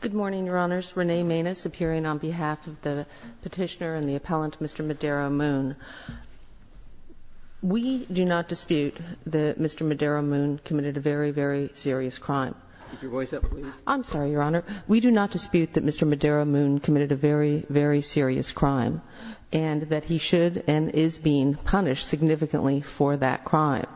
Good morning, Your Honors. Renee Manis appearing on behalf of the petitioner and the appellant, Mr. Medero Moon. We do not dispute that Mr. Medero Moon committed a very, very serious crime. Keep your voice up, please. I'm sorry, Your Honor. We do not dispute that Mr. Medero Moon committed a very, very serious crime and that he should and is being punished significantly for that crime.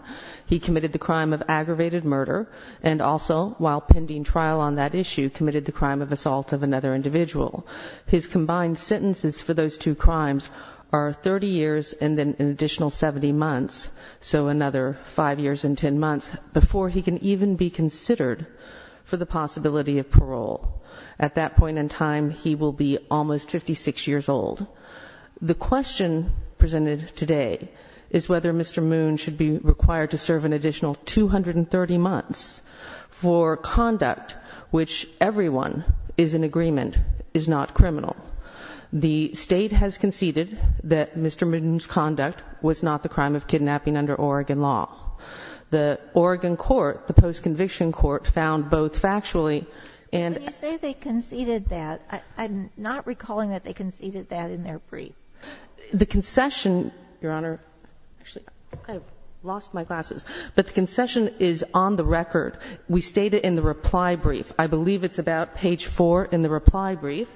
He committed the crime of aggravated murder and also, while pending trial on that issue, committed the crime of assault of another individual. His combined sentences for those two crimes are 30 years and then an additional 70 months, so another 5 years and 10 months before he can even be considered for the possibility of parole. At that point in time, he will be almost 56 years old. The question presented today is whether Mr. Moon should be required to serve an additional 230 months for conduct which everyone is in agreement is not criminal. The state has conceded that Mr. Moon's conduct was not the crime of kidnapping under Oregon law. The Oregon court, the post-conviction court, found both factually and- In their brief. The concession, Your Honor, actually, I've lost my glasses, but the concession is on the record. We state it in the reply brief. I believe it's about page 4 in the reply brief.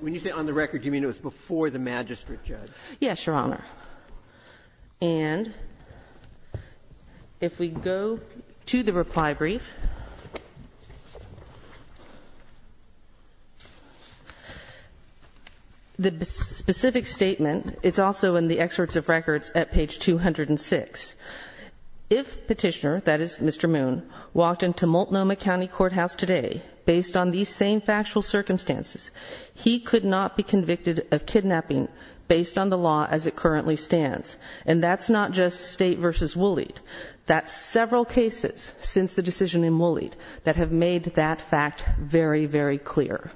When you say on the record, do you mean it was before the magistrate judge? Yes, Your Honor. And if we go to the reply brief, the specific statement, it's also in the excerpts of records at page 206. If petitioner, that is Mr. Moon, walked into Multnomah County Courthouse today based on these same factual circumstances, he could not be convicted of kidnapping based on the law as it currently stands. And that's not just state versus Woolley. That's several cases since the decision in Woolley that have made that fact very, very clear.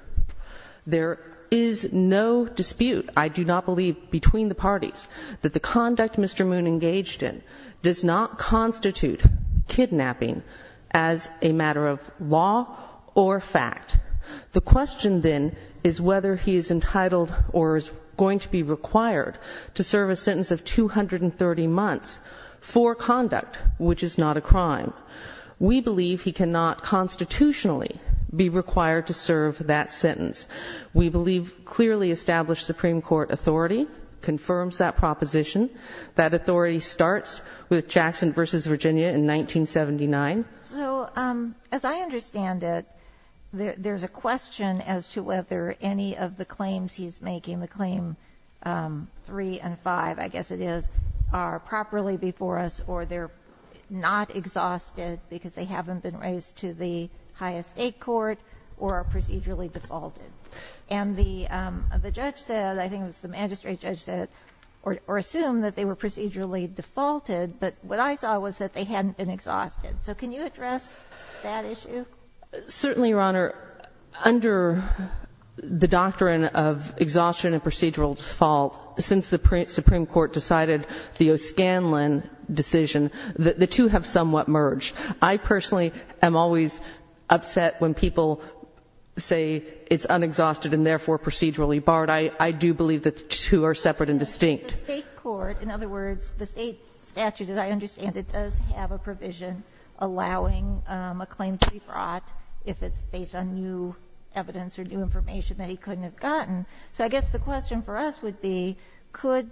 There is no dispute, I do not believe, between the parties that the conduct Mr. Moon engaged in does not constitute kidnapping as a matter of law or fact. The question then is whether he is entitled or is going to be required to serve a sentence of 230 months for conduct, which is not a crime. We believe he cannot constitutionally be required to serve that sentence. We believe clearly established Supreme Court authority confirms that proposition. That authority starts with Jackson v. Virginia in 1979. So as I understand it, there's a question as to whether any of the claims he's making, the claim three and five, I guess it is, are properly before us or they're not exhausted because they haven't been raised to the highest state court or are procedurally defaulted. And the judge said, I think it was the magistrate judge said, or assumed that they were procedurally defaulted, but what I saw was that they hadn't been exhausted. So can you address that issue? Certainly, Your Honor. Under the doctrine of exhaustion and procedural default, since the Supreme Court decided the O'Scanlan decision, the two have somewhat merged. I personally am always upset when people say it's unexhausted and therefore procedurally barred. I do believe that the two are separate and distinct. The state court, in other words, the state statute, as I understand it, does have a provision allowing a claim to be brought if it's based on new evidence or new information that he couldn't have gotten. So I guess the question for us would be, could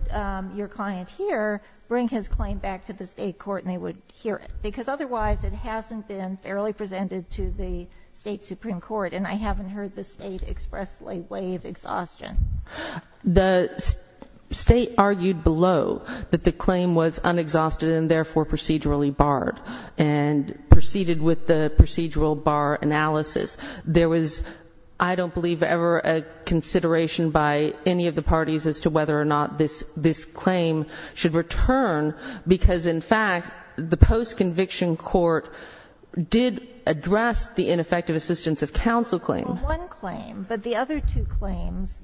your client here bring his claim back to the state court and they would hear it? Because otherwise it hasn't been fairly presented to the state Supreme Court, and I haven't heard the state expressly waive exhaustion. The state argued below that the claim was unexhausted and therefore procedurally barred, and proceeded with the procedural bar analysis. There was, I don't believe, ever a consideration by any of the parties as to whether or not this claim should return, because in fact, the post-conviction court did address the ineffective assistance of counsel claim. Well, one claim, but the other two claims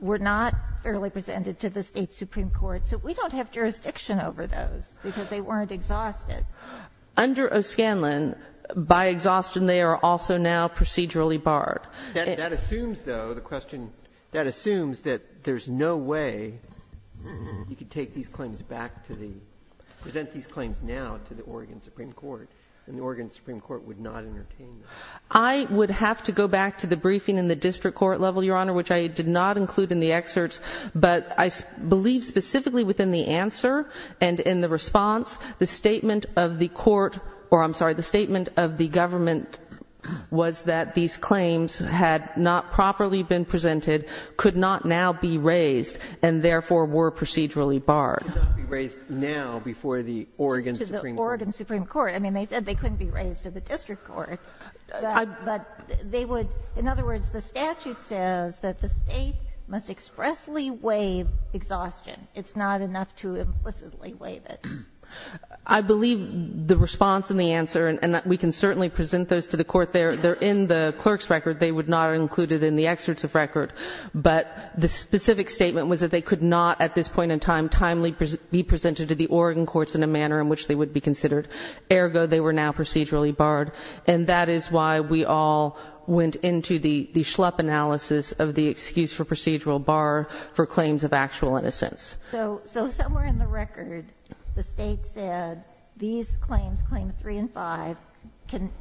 were not fairly presented to the state Supreme Court, so we don't have jurisdiction over those, because they weren't exhausted. Under O'Scanlan, by exhaustion they are also now procedurally barred. That assumes, though, the question, that assumes that there's no way you could take these claims back to the, present these claims now to the Oregon Supreme Court, and the Oregon Supreme Court would not entertain them. I would have to go back to the briefing in the district court level, Your Honor, which I did not include in the excerpts, but I believe specifically within the answer and in the response, the statement of the court, or I'm sorry, the statement of the government was that these claims had not properly been presented, could not now be raised, and therefore were procedurally barred. Could not be raised now before the Oregon Supreme Court. To the Oregon Supreme Court. I mean, they said they couldn't be raised to the district court. But they would, in other words, the statute says that the state must expressly waive exhaustion. It's not enough to implicitly waive it. I believe the response and the answer, and we can certainly present those to the court, they're in the clerk's record. They would not include it in the excerpt of record. But the specific statement was that they could not, at this point in time, timely be presented to the Oregon courts in a manner in which they would be considered. Ergo, they were now procedurally barred. And that is why we all went into the schlup analysis of the excuse for procedural bar for claims of actual innocence. So somewhere in the record, the state said these claims, claim three and five,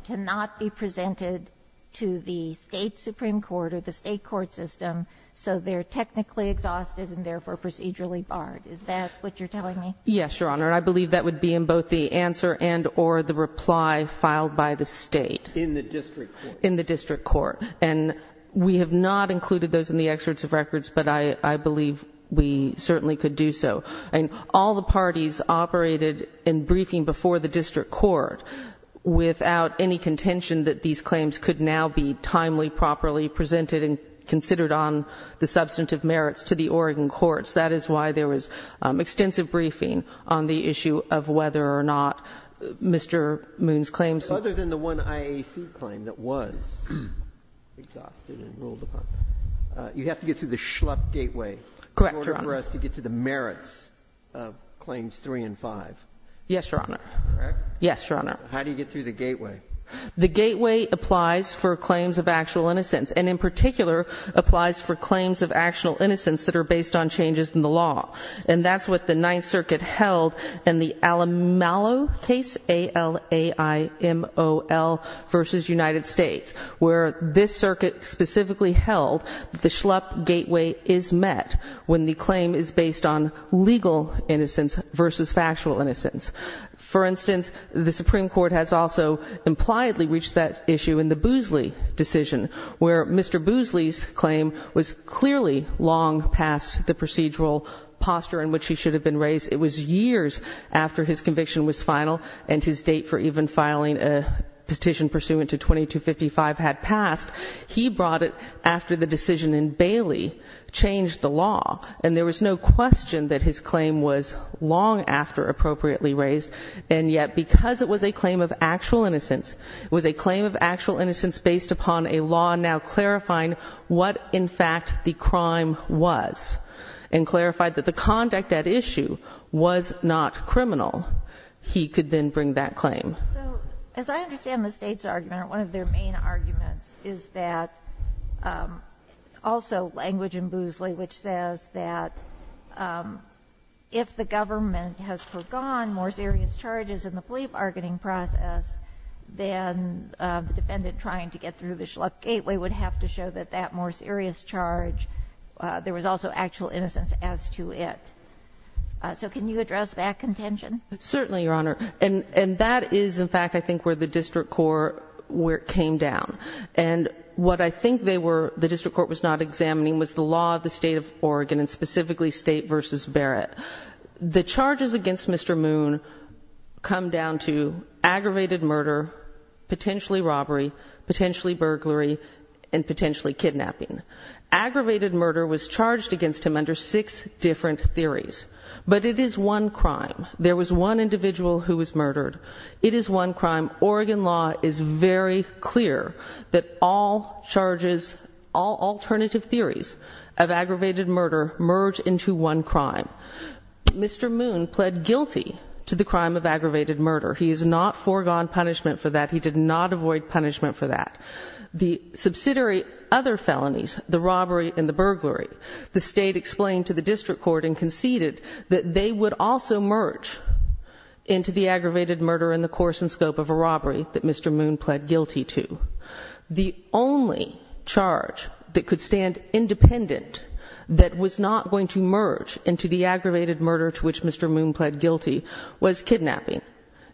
cannot be presented to the state supreme court or the state court system. So they're technically exhausted and therefore procedurally barred. Is that what you're telling me? Yes, your honor. I believe that would be in both the answer and or the reply filed by the state. In the district court. In the district court. And we have not included those in the excerpts of records, but I believe we certainly could do so. And all the parties operated in briefing before the district court without any contention that these claims could now be timely, properly presented and considered on the substantive merits to the Oregon courts. That is why there was extensive briefing on the issue of whether or not Mr. Moon's claims. Other than the one IAC claim that was exhausted and ruled upon, you have to get through the schlup gateway. Correct, your honor. In order for us to get to the merits of claims three and five. Yes, your honor. Correct? Yes, your honor. How do you get through the gateway? The gateway applies for claims of actual innocence. And in particular, applies for claims of actual innocence that are based on changes in the law. And that's what the Ninth Circuit held in the Alamalo case, A-L-A-I-M-O-L versus United States. Where this circuit specifically held the schlup gateway is met when the claim is based on legal innocence versus factual innocence. For instance, the Supreme Court has also impliedly reached that issue in the Boosley decision. Where Mr. Boosley's claim was clearly long past the procedural posture in which he should have been raised. It was years after his conviction was final and his date for even filing a petition pursuant to 2255 had passed. He brought it after the decision in Bailey changed the law. And there was no question that his claim was long after appropriately raised. And yet because it was a claim of actual innocence, it was a claim of actual innocence based upon a law now clarifying what, in fact, the crime was. And clarified that the conduct at issue was not criminal. He could then bring that claim. So, as I understand the state's argument, or one of their main arguments, is that also language in Boosley, which says that if the government has forgone more serious charges in the plea bargaining process. Then the defendant trying to get through the schlup gateway would have to show that that more serious charge. There was also actual innocence as to it. So can you address that contention? Certainly, Your Honor. And that is, in fact, I think where the district court came down. And what I think the district court was not examining was the law of the state of Oregon, and specifically state versus Barrett. The charges against Mr. Moon come down to aggravated murder, potentially robbery, potentially burglary, and potentially kidnapping. Aggravated murder was charged against him under six different theories. But it is one crime. There was one individual who was murdered. It is one crime. Oregon law is very clear that all charges, all alternative theories of aggravated murder merge into one crime. Mr. Moon pled guilty to the crime of aggravated murder. He has not foregone punishment for that. He did not avoid punishment for that. The subsidiary other felonies, the robbery and the burglary, the state explained to the district court and the district court that Mr. Moon pled guilty to, the only charge that could stand independent that was not going to merge into the aggravated murder to which Mr. Moon pled guilty was kidnapping,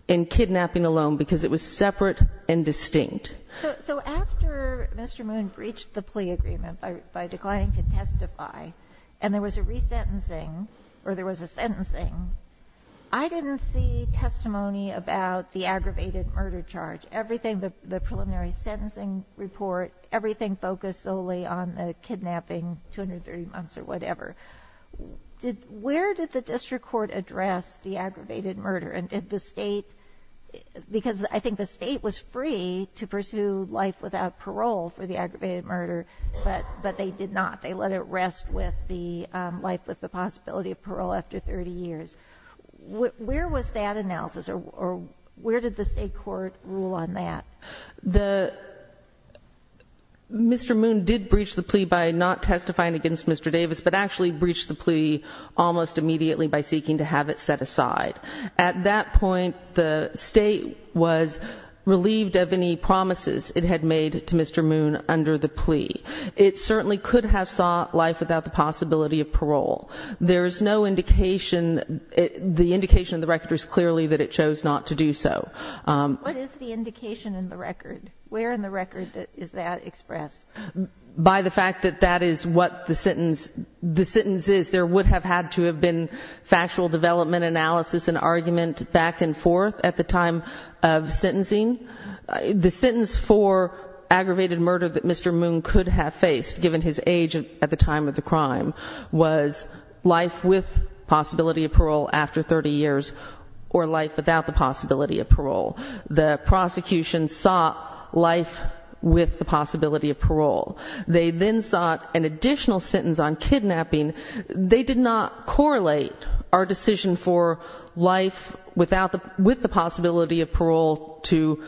and kidnapping alone, because it was separate and distinct. So after Mr. Moon breached the plea agreement by declining to testify, and there was a resentencing, or there was a sentencing, I didn't see testimony about the aggravated murder charge. Everything, the preliminary sentencing report, everything focused solely on the kidnapping, 230 months or whatever. Where did the district court address the aggravated murder? And did the state, because I think the state was free to pursue life without parole for the aggravated murder, but they did not. They let it rest with the life with the possibility of parole after 30 years. Where was that analysis, or where did the state court rule on that? Mr. Moon did breach the plea by not testifying against Mr. Davis, but actually breached the plea almost immediately by seeking to have it set aside. At that point, the state was relieved of any promises it had made to Mr. Moon under the plea. It certainly could have sought life without the possibility of parole. There is no indication, the indication of the record is clearly that it chose not to do so. What is the indication in the record? Where in the record is that expressed? By the fact that that is what the sentence is, there would have had to have been factual development analysis and argument back and forth at the time of sentencing. The sentence for aggravated murder that Mr. Moon could have faced, given his age at the time of the crime, was life with possibility of parole after 30 years. Or life without the possibility of parole. The prosecution sought life with the possibility of parole. They then sought an additional sentence on kidnapping. They did not correlate our decision for life with the possibility of parole to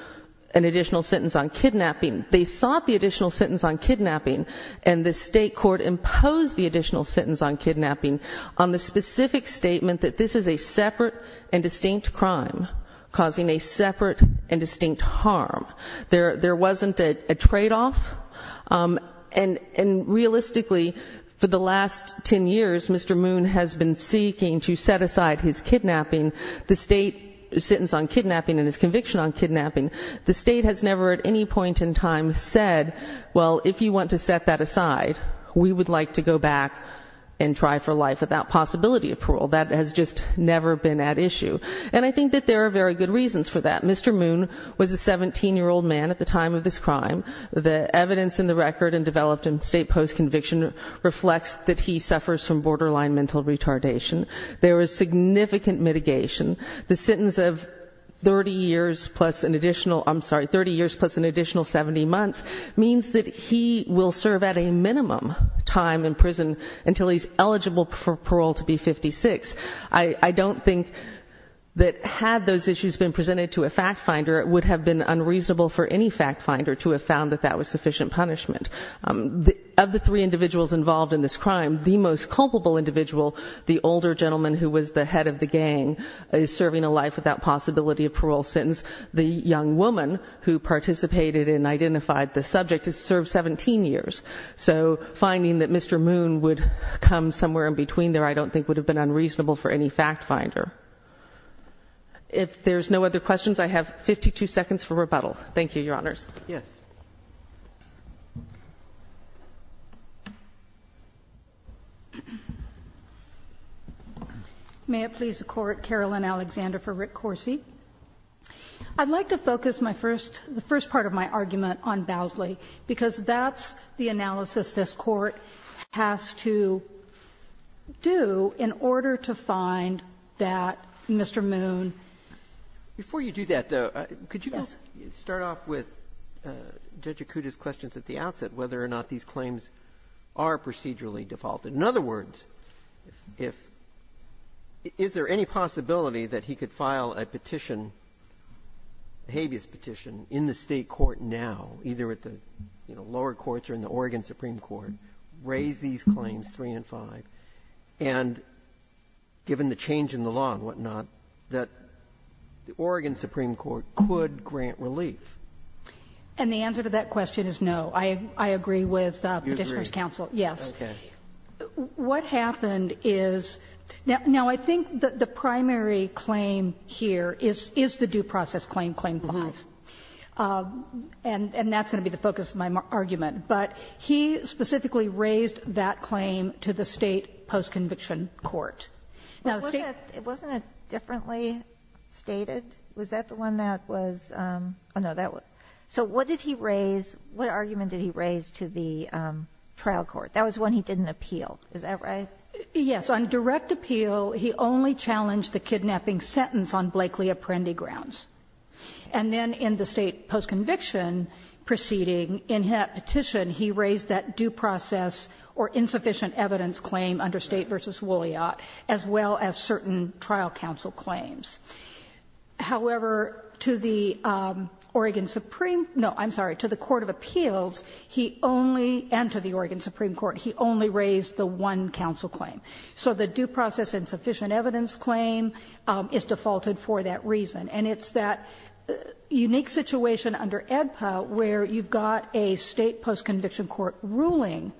an additional sentence on kidnapping. They sought the additional sentence on kidnapping, and the state court imposed the additional sentence on kidnapping on the specific statement that this is a separate and distinct crime, causing a separate and distinct harm. There wasn't a trade off, and realistically, for the last ten years, Mr. Moon has been seeking to set aside his kidnapping, the state sentence on kidnapping, and his conviction on kidnapping. The state has never at any point in time said, well, if you want to set that aside, we would like to go back and try for life without possibility of parole. That has just never been at issue. And I think that there are very good reasons for that. Mr. Moon was a 17 year old man at the time of this crime. The evidence in the record and developed in state post conviction reflects that he suffers from borderline mental retardation. There is significant mitigation. The sentence of 30 years plus an additional 70 months means that he will serve at a minimum time in prison until he's eligible for parole to be 56. I don't think that had those issues been presented to a fact finder, it would have been unreasonable for any fact finder to have found that that was sufficient punishment. Of the three individuals involved in this crime, the most culpable individual, the older gentleman who was the head of the gang, is serving a life without possibility of parole since the young woman who participated and identified the subject has served 17 years. So finding that Mr. Moon would come somewhere in between there, I don't think would have been unreasonable for any fact finder. If there's no other questions, I have 52 seconds for rebuttal. Thank you, your honors. Yes. May it please the court, Carolyn Alexander for Rick Corsi. I'd like to focus the first part of my argument on Bowsley because that's the analysis this court has to do in order to find that Mr. Moon. Before you do that, could you start off with Judge Acuda's questions at the outset, whether or not these claims are procedurally defaulted. In other words, is there any possibility that he could file a petition, habeas petition, in the state court now, either at the lower courts or in the Oregon Supreme Court, raise these claims, three and five, and given the change in the law and what not, that the Oregon Supreme Court could grant relief? And the answer to that question is no. I agree with the petitioner's counsel. Yes. What happened is, now I think the primary claim here is the due process claim, claim five. And that's going to be the focus of my argument. But he specifically raised that claim to the state post-conviction court. Now, the state- Wasn't it differently stated? Was that the one that was, no, that was. So what did he raise, what argument did he raise to the trial court? That was one he didn't appeal, is that right? Yes, on direct appeal, he only challenged the kidnapping sentence on Blakely Apprendi grounds. And then in the state post-conviction proceeding, in that petition, he raised that due process or insufficient evidence claim under State v. Woolleyot, as well as certain trial counsel claims. However, to the Oregon Supreme, no, I'm sorry, to the Court of Appeals, he only, and to the Oregon Supreme Court, he only raised the one counsel claim. So the due process insufficient evidence claim is defaulted for that reason. And it's that unique situation under AEDPA where you've got a state post-conviction court ruling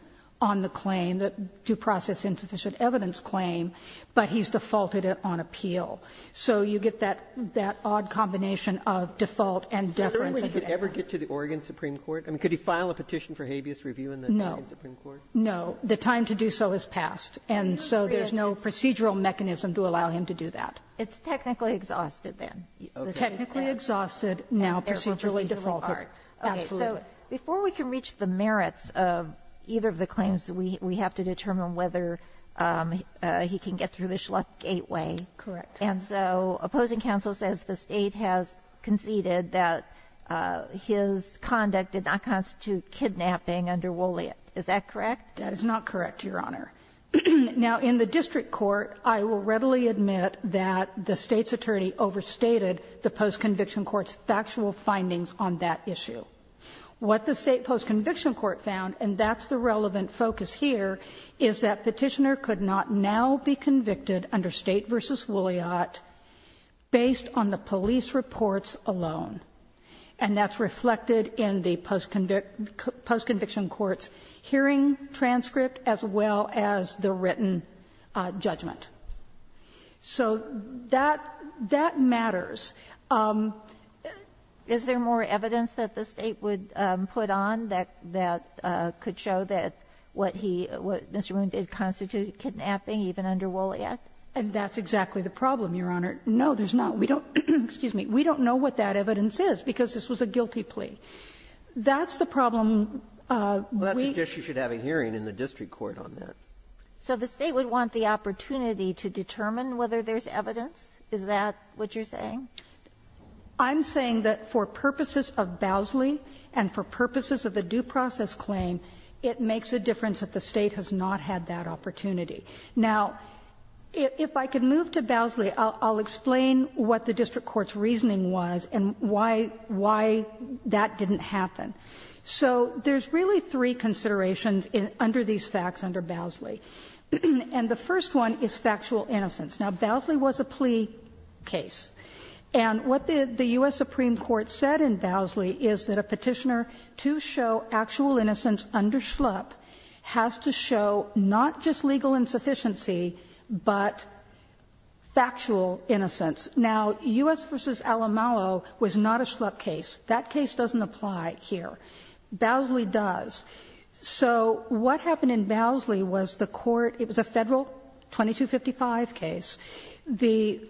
on the claim, the due process insufficient evidence claim, but he's defaulted it on appeal. So you get that odd combination of default and deference. I don't think he could ever get to the Oregon Supreme Court. I mean, could he file a petition for habeas review in the Oregon Supreme Court? No, the time to do so has passed. And so there's no procedural mechanism to allow him to do that. It's technically exhausted, then. Technically exhausted, now procedurally defaulted. Absolutely. Okay. So before we can reach the merits of either of the claims, we have to determine whether he can get through the Schlecht gateway. Correct. And so opposing counsel says the State has conceded that his conduct did not constitute kidnapping under Woolleyot. Is that correct? That is not correct, Your Honor. Now, in the district court, I will readily admit that the State's attorney overstated the post-conviction court's factual findings on that issue. What the State post-conviction court found, and that's the relevant focus here, is that Petitioner could not now be convicted under State v. Woolleyot based on the police reports alone. And that's reflected in the post-conviction court's hearing transcript as well as the written judgment. So that matters. Is there more evidence that the State would put on that could show that what he, what Mr. Moon did constitute kidnapping even under Woolleyot? And that's exactly the problem, Your Honor. No, there's not. We don't know what that evidence is because this was a guilty plea. That's the problem. We can't do that. Well, that suggests you should have a hearing in the district court on that. So the State would want the opportunity to determine whether there's evidence? Is that what you're saying? I'm saying that for purposes of Bowsley and for purposes of the due process claim, it makes a difference that the State has not had that opportunity. Now, if I could move to Bowsley, I'll explain what the district court's reasoning was and why that didn't happen. So there's really three considerations under these facts under Bowsley. And the first one is factual innocence. Now, Bowsley was a plea case. And what the US Supreme Court said in Bowsley is that a petitioner to show actual innocence under schlup has to show not just legal insufficiency, but factual innocence. Now, US v. Alamalo was not a schlup case. That case doesn't apply here. Bowsley does. So what happened in Bowsley was the court, it was a federal 2255 case. The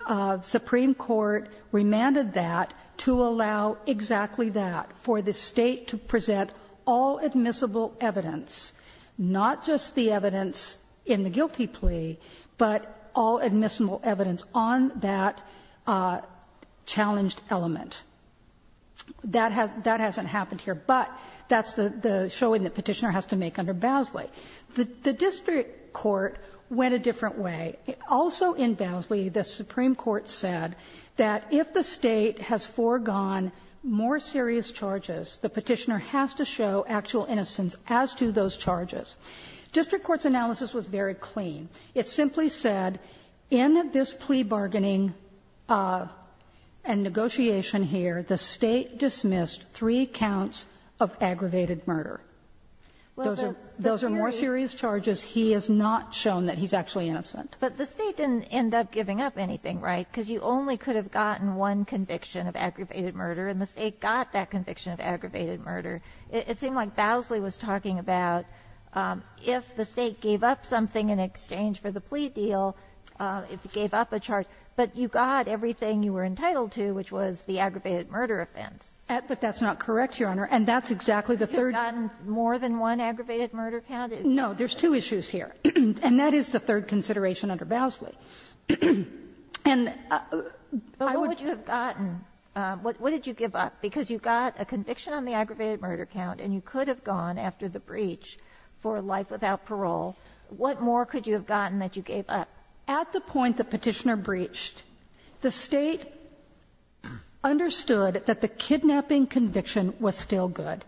Supreme Court remanded that to allow exactly that for the State to present all admissible evidence, not just the evidence in the guilty plea, but all admissible evidence on that challenged element. That hasn't happened here, but that's the showing the petitioner has to make under Bowsley. The district court went a different way. Also in Bowsley, the Supreme Court said that if the State has foregone more serious charges, the petitioner has to show actual innocence as to those charges. District court's analysis was very clean. It simply said, in this plea bargaining and dismissal, the State has dismissed three counts of aggravated murder. Those are more serious charges. He has not shown that he's actually innocent. But the State didn't end up giving up anything, right? Because you only could have gotten one conviction of aggravated murder, and the State got that conviction of aggravated murder. It seemed like Bowsley was talking about if the State gave up something in exchange for the plea deal, it gave up a charge. But you got everything you were entitled to, which was the aggravated murder offense. But that's not correct, Your Honor. And that's exactly the third. You've gotten more than one aggravated murder count? No, there's two issues here. And that is the third consideration under Bowsley. And I would. But what would you have gotten? What did you give up? Because you got a conviction on the aggravated murder count, and you could have gone after the breach for life without parole. What more could you have gotten that you gave up? At the point the Petitioner breached, the State understood that the kidnapping conviction was still good.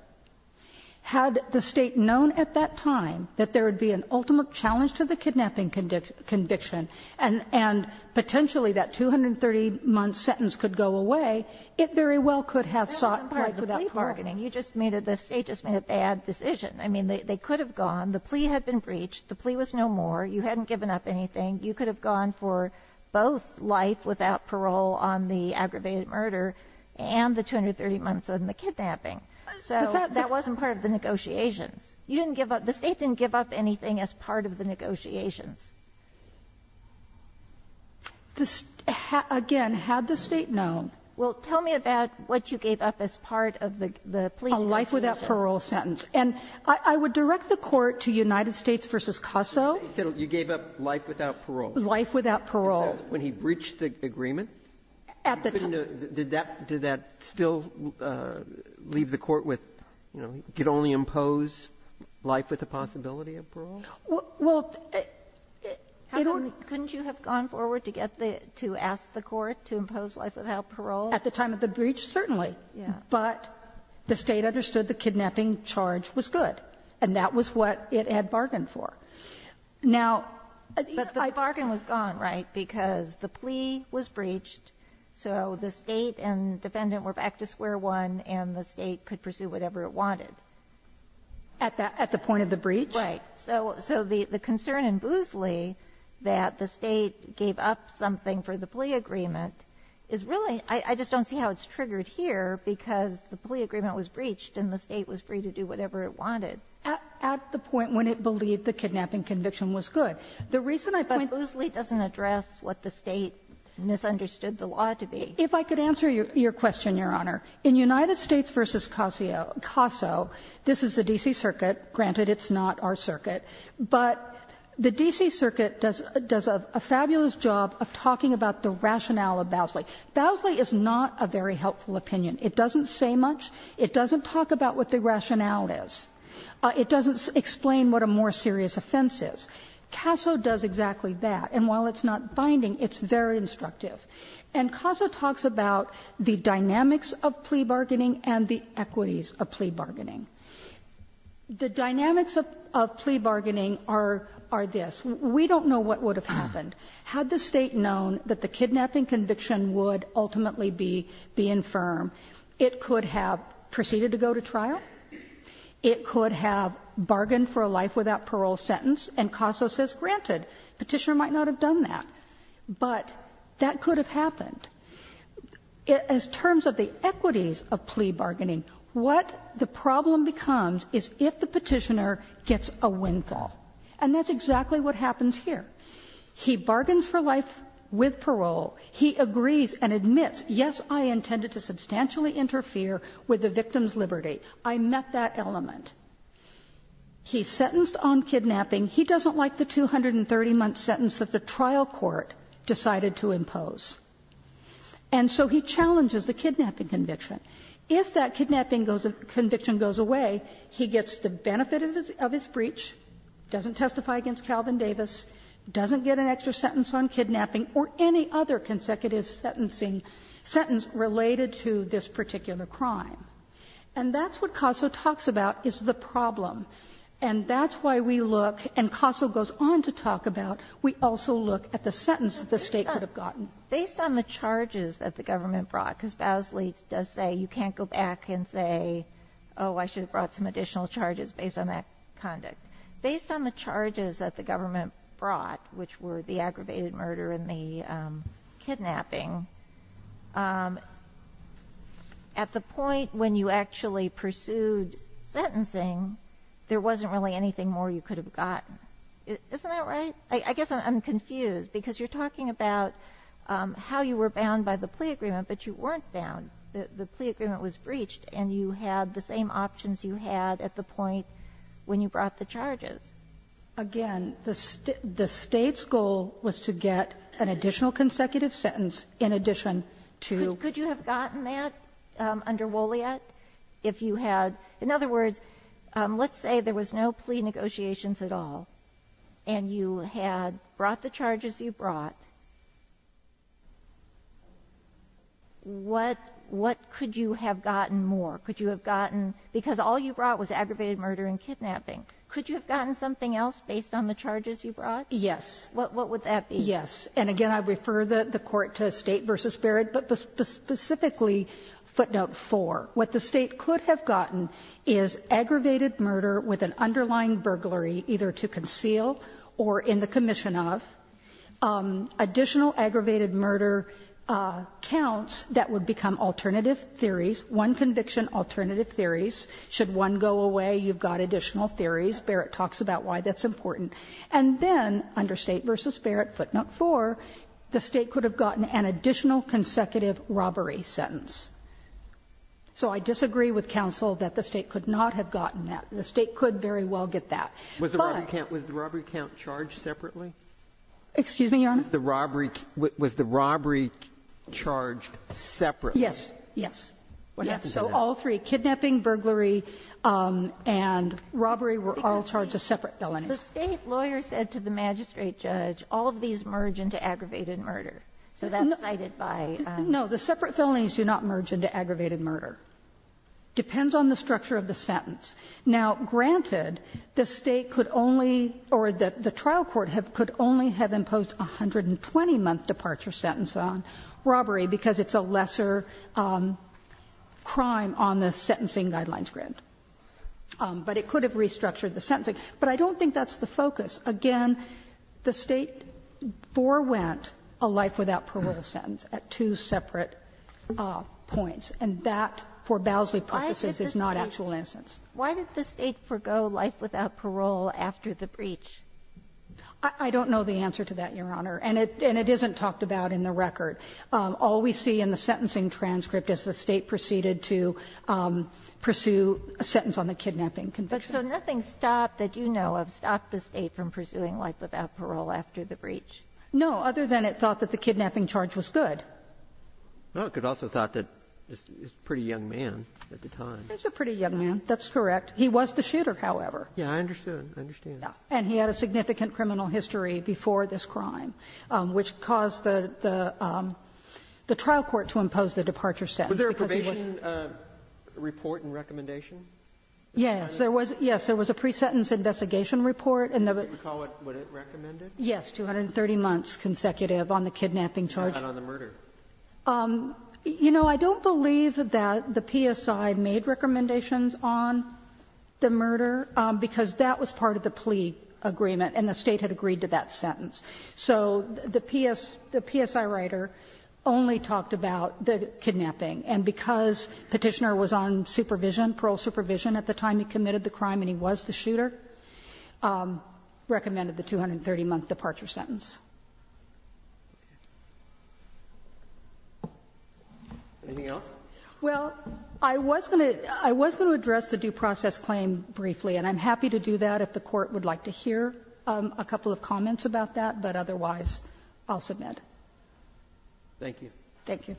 Had the State known at that time that there would be an ultimate challenge to the kidnapping conviction, and potentially that 230-month sentence could go away, it very well could have sought for that bargaining. The State just made a bad decision. I mean, they could have gone. The plea had been breached. The plea was no more. You hadn't given up anything. You could have gone for both life without parole on the aggravated murder and the 230 months on the kidnapping. So that wasn't part of the negotiations. You didn't give up. The State didn't give up anything as part of the negotiations. Again, had the State known. Well, tell me about what you gave up as part of the plea. A life without parole sentence. And I would direct the Court to United States v. CASA. You said you gave up life without parole. Life without parole. When he breached the agreement. At the time. Did that still leave the Court with, you know, could only impose life with the possibility of parole? Well, couldn't you have gone forward to get the, to ask the Court to impose life without parole? At the time of the breach, certainly. But the State understood the kidnapping charge was good. And that was what it had bargained for. Now. But the bargain was gone, right? Because the plea was breached. So the State and defendant were back to square one. And the State could pursue whatever it wanted. At the point of the breach? Right. So the concern in Boosley that the State gave up something for the plea agreement is really, I just don't see how it's triggered here. Because the plea agreement was breached. And the State was free to do whatever it wanted. At the point when it believed the kidnapping conviction was good. The reason I point out. But Boosley doesn't address what the State misunderstood the law to be. If I could answer your question, Your Honor. In United States v. CASO, this is the D.C. Circuit. Granted, it's not our circuit. But the D.C. Circuit does a fabulous job of talking about the rationale of Bowsley. Bowsley is not a very helpful opinion. It doesn't say much. It doesn't talk about what the rationale is. It doesn't explain what a more serious offense is. CASO does exactly that. And while it's not binding, it's very instructive. And CASO talks about the dynamics of plea bargaining and the equities of plea bargaining. The dynamics of plea bargaining are this. We don't know what would have happened. Had the State known that the kidnapping conviction would ultimately be infirm. It could have proceeded to go to trial. It could have bargained for a life without parole sentence. And CASO says, granted, Petitioner might not have done that. But that could have happened. As terms of the equities of plea bargaining, what the problem becomes is if the Petitioner gets a windfall. And that's exactly what happens here. He bargains for life with parole. He agrees and admits, yes, I intended to substantially interfere with the victim's liberty. I met that element. He's sentenced on kidnapping. He doesn't like the 230-month sentence that the trial court decided to impose. And so he challenges the kidnapping conviction. If that kidnapping conviction goes away, he gets the benefit of his breach, doesn't testify against Calvin Davis, doesn't get an extra sentence on kidnapping or any other consecutive sentence related to this particular crime. And that's what CASO talks about is the problem. And that's why we look, and CASO goes on to talk about, we also look at the sentence that the State could have gotten. Based on the charges that the government brought, because Basley does say you can't go back and say, oh, I should have brought some additional charges based on that conduct. But if you're talking about kidnapping, at the point when you actually pursued sentencing, there wasn't really anything more you could have gotten. Isn't that right? I guess I'm confused, because you're talking about how you were bound by the plea agreement, but you weren't bound. The plea agreement was breached, and you had the same options you had at the point when you brought the charges. Again, the State's goal was to get an additional consecutive sentence in addition to the plea agreement. Could you have gotten that under Wolliat if you had? In other words, let's say there was no plea negotiations at all, and you had brought the charges you brought, what could you have gotten more? Could you have gotten, because all you brought was aggravated murder and kidnapping, could you have gotten something else based on the charges you brought? Yes. What would that be? Yes. And again, I refer the Court to State v. Barrett, but specifically footnote 4. What the State could have gotten is aggravated murder with an underlying burglary either to conceal or in the commission of, additional aggravated murder counts that would become alternative theories, one conviction, alternative theories. Should one go away, you've got additional theories. Barrett talks about why that's important. And then under State v. Barrett, footnote 4, the State could have gotten an additional consecutive robbery sentence. So I disagree with counsel that the State could not have gotten that. The State could very well get that. Was the robbery count charged separately? Excuse me, Your Honor? Was the robbery charged separately? Yes. Yes. So all three, kidnapping, burglary, and robbery were all charged as separate felonies. The State lawyer said to the magistrate judge, all of these merge into aggravated murder, so that's cited by. No, the separate felonies do not merge into aggravated murder. Depends on the structure of the sentence. Now, granted, the State could only, or the trial court could only have imposed a 120-month departure sentence on robbery because it's a lesser crime on the sentencing guidelines grant. But it could have restructured the sentencing. But I don't think that's the focus. Again, the State forewent a life without parole sentence at two separate points. And that, for Bowsley purposes, is not actual instance. Why did the State forego life without parole after the breach? I don't know the answer to that, Your Honor. And it isn't talked about in the record. All we see in the sentencing transcript is the State proceeded to pursue a sentence on the kidnapping conviction. But so nothing stopped that you know of stopped the State from pursuing life without parole after the breach? No, other than it thought that the kidnapping charge was good. Well, it could also have thought that he was a pretty young man at the time. He was a pretty young man. That's correct. He was the shooter, however. Yes, I understand. I understand. And he had a significant criminal history before this crime, which caused the trial court to impose the departure sentence. Was there a probation report and recommendation? Yes, there was a pre-sentence investigation report. Do you recall what it recommended? Yes, 230 months consecutive on the kidnapping charge. How about on the murder? You know, I don't believe that the PSI made recommendations on the murder, because that was part of the plea agreement and the State had agreed to that sentence. So the PSI writer only talked about the kidnapping. And because Petitioner was on supervision, parole supervision, at the time he committed the crime and he was the shooter, recommended the 230-month departure sentence. Anything else? Well, I was going to address the due process claim briefly, and I'm happy to do that if the Court would like to hear a couple of comments about that, but otherwise I'll submit. Thank you. Thank you.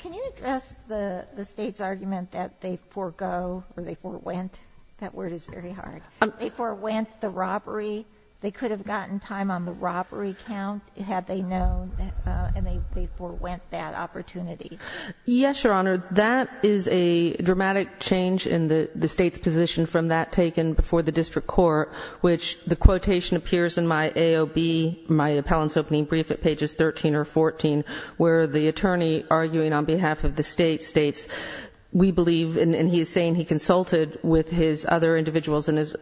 Can you address the State's argument that they forgo or they forwent? That word is very hard. They forwent the robbery. They could have gotten time on the robbery count, had they known, and they forwent that opportunity. Yes, Your Honor. That is a dramatic change in the State's position from that taken before the District Court, which the quotation appears in my AOB, my appellant's opening brief at pages 13 or 14, where the attorney arguing on behalf of the State states, we believe, and he is saying he consulted with his other individuals and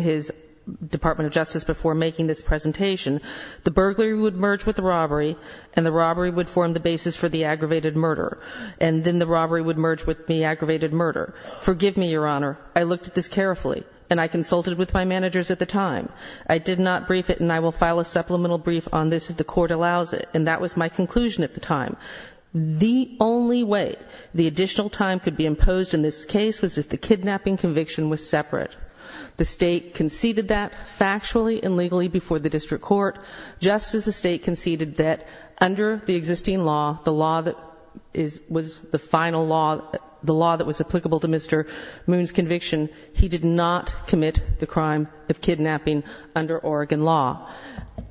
his Department of Justice before making this presentation, the burglary would merge with the robbery, and the robbery would form the basis for the aggravated murder, and then the robbery would merge with the aggravated murder. Forgive me, Your Honor, I looked at this carefully, and I consulted with my managers at the time. I did not brief it, and I will file a supplemental brief on this if the Court allows it, and that was my conclusion at the time. The only way the additional time could be imposed in this case was if the State conceded that factually and legally before the District Court, just as the State conceded that under the existing law, the law that was the final law, the law that was applicable to Mr. Moon's conviction, he did not commit the crime of kidnapping under Oregon law.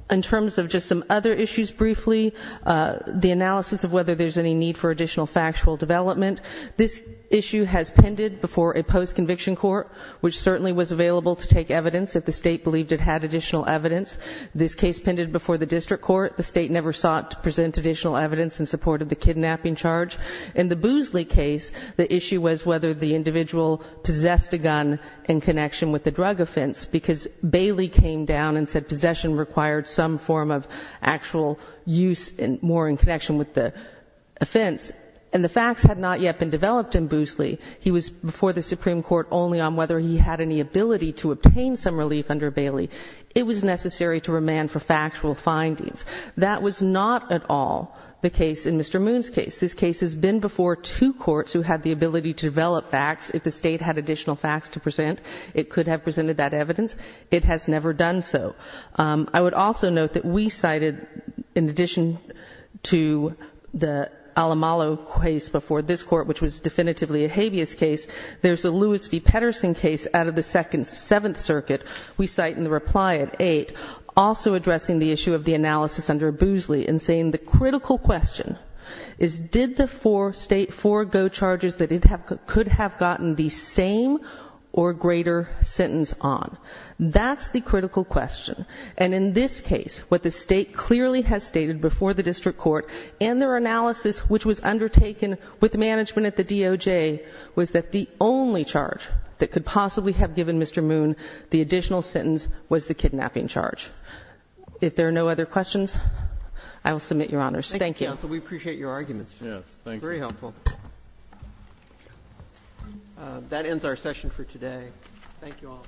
In terms of just some other issues briefly, the analysis of whether there's any need for additional factual development, this issue has pended before a post-conviction court, which certainly was available to take evidence if the State believed it had additional evidence. This case pended before the District Court. The State never sought to present additional evidence in support of the kidnapping charge. In the Boosley case, the issue was whether the individual possessed a gun in connection with the drug offense, because Bailey came down and said possession required some form of actual use more in connection with the offense, and the facts had not yet been developed in Boosley. He was before the Supreme Court only on whether he had any ability to obtain some relief under Bailey. It was necessary to remand for factual findings. That was not at all the case in Mr. Moon's case. This case has been before two courts who had the ability to develop facts. If the State had additional facts to present, it could have presented that evidence. It has never done so. I would also note that we cited, in addition to the Alamalo case before this previous case, there's a Lewis v. Pedersen case out of the Second Seventh Circuit. We cite in the reply at 8, also addressing the issue of the analysis under Boosley, and saying the critical question is did the four go charges that it could have gotten the same or greater sentence on. That's the critical question. And in this case, what the State clearly has stated before the District Court and their analysis, which was undertaken with management at the DOJ, was that the only charge that could possibly have given Mr. Moon the additional sentence was the kidnapping charge. If there are no other questions, I will submit Your Honors. Thank you. Thank you, Counsel. We appreciate your arguments. Yes. Thank you. Very helpful. That ends our session for today. Thank you all.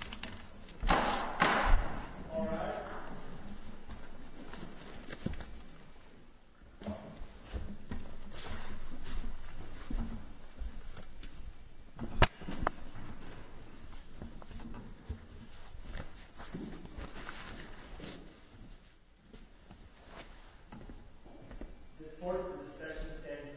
All rise. The Court is in session standing adjourned. The Court is adjourned.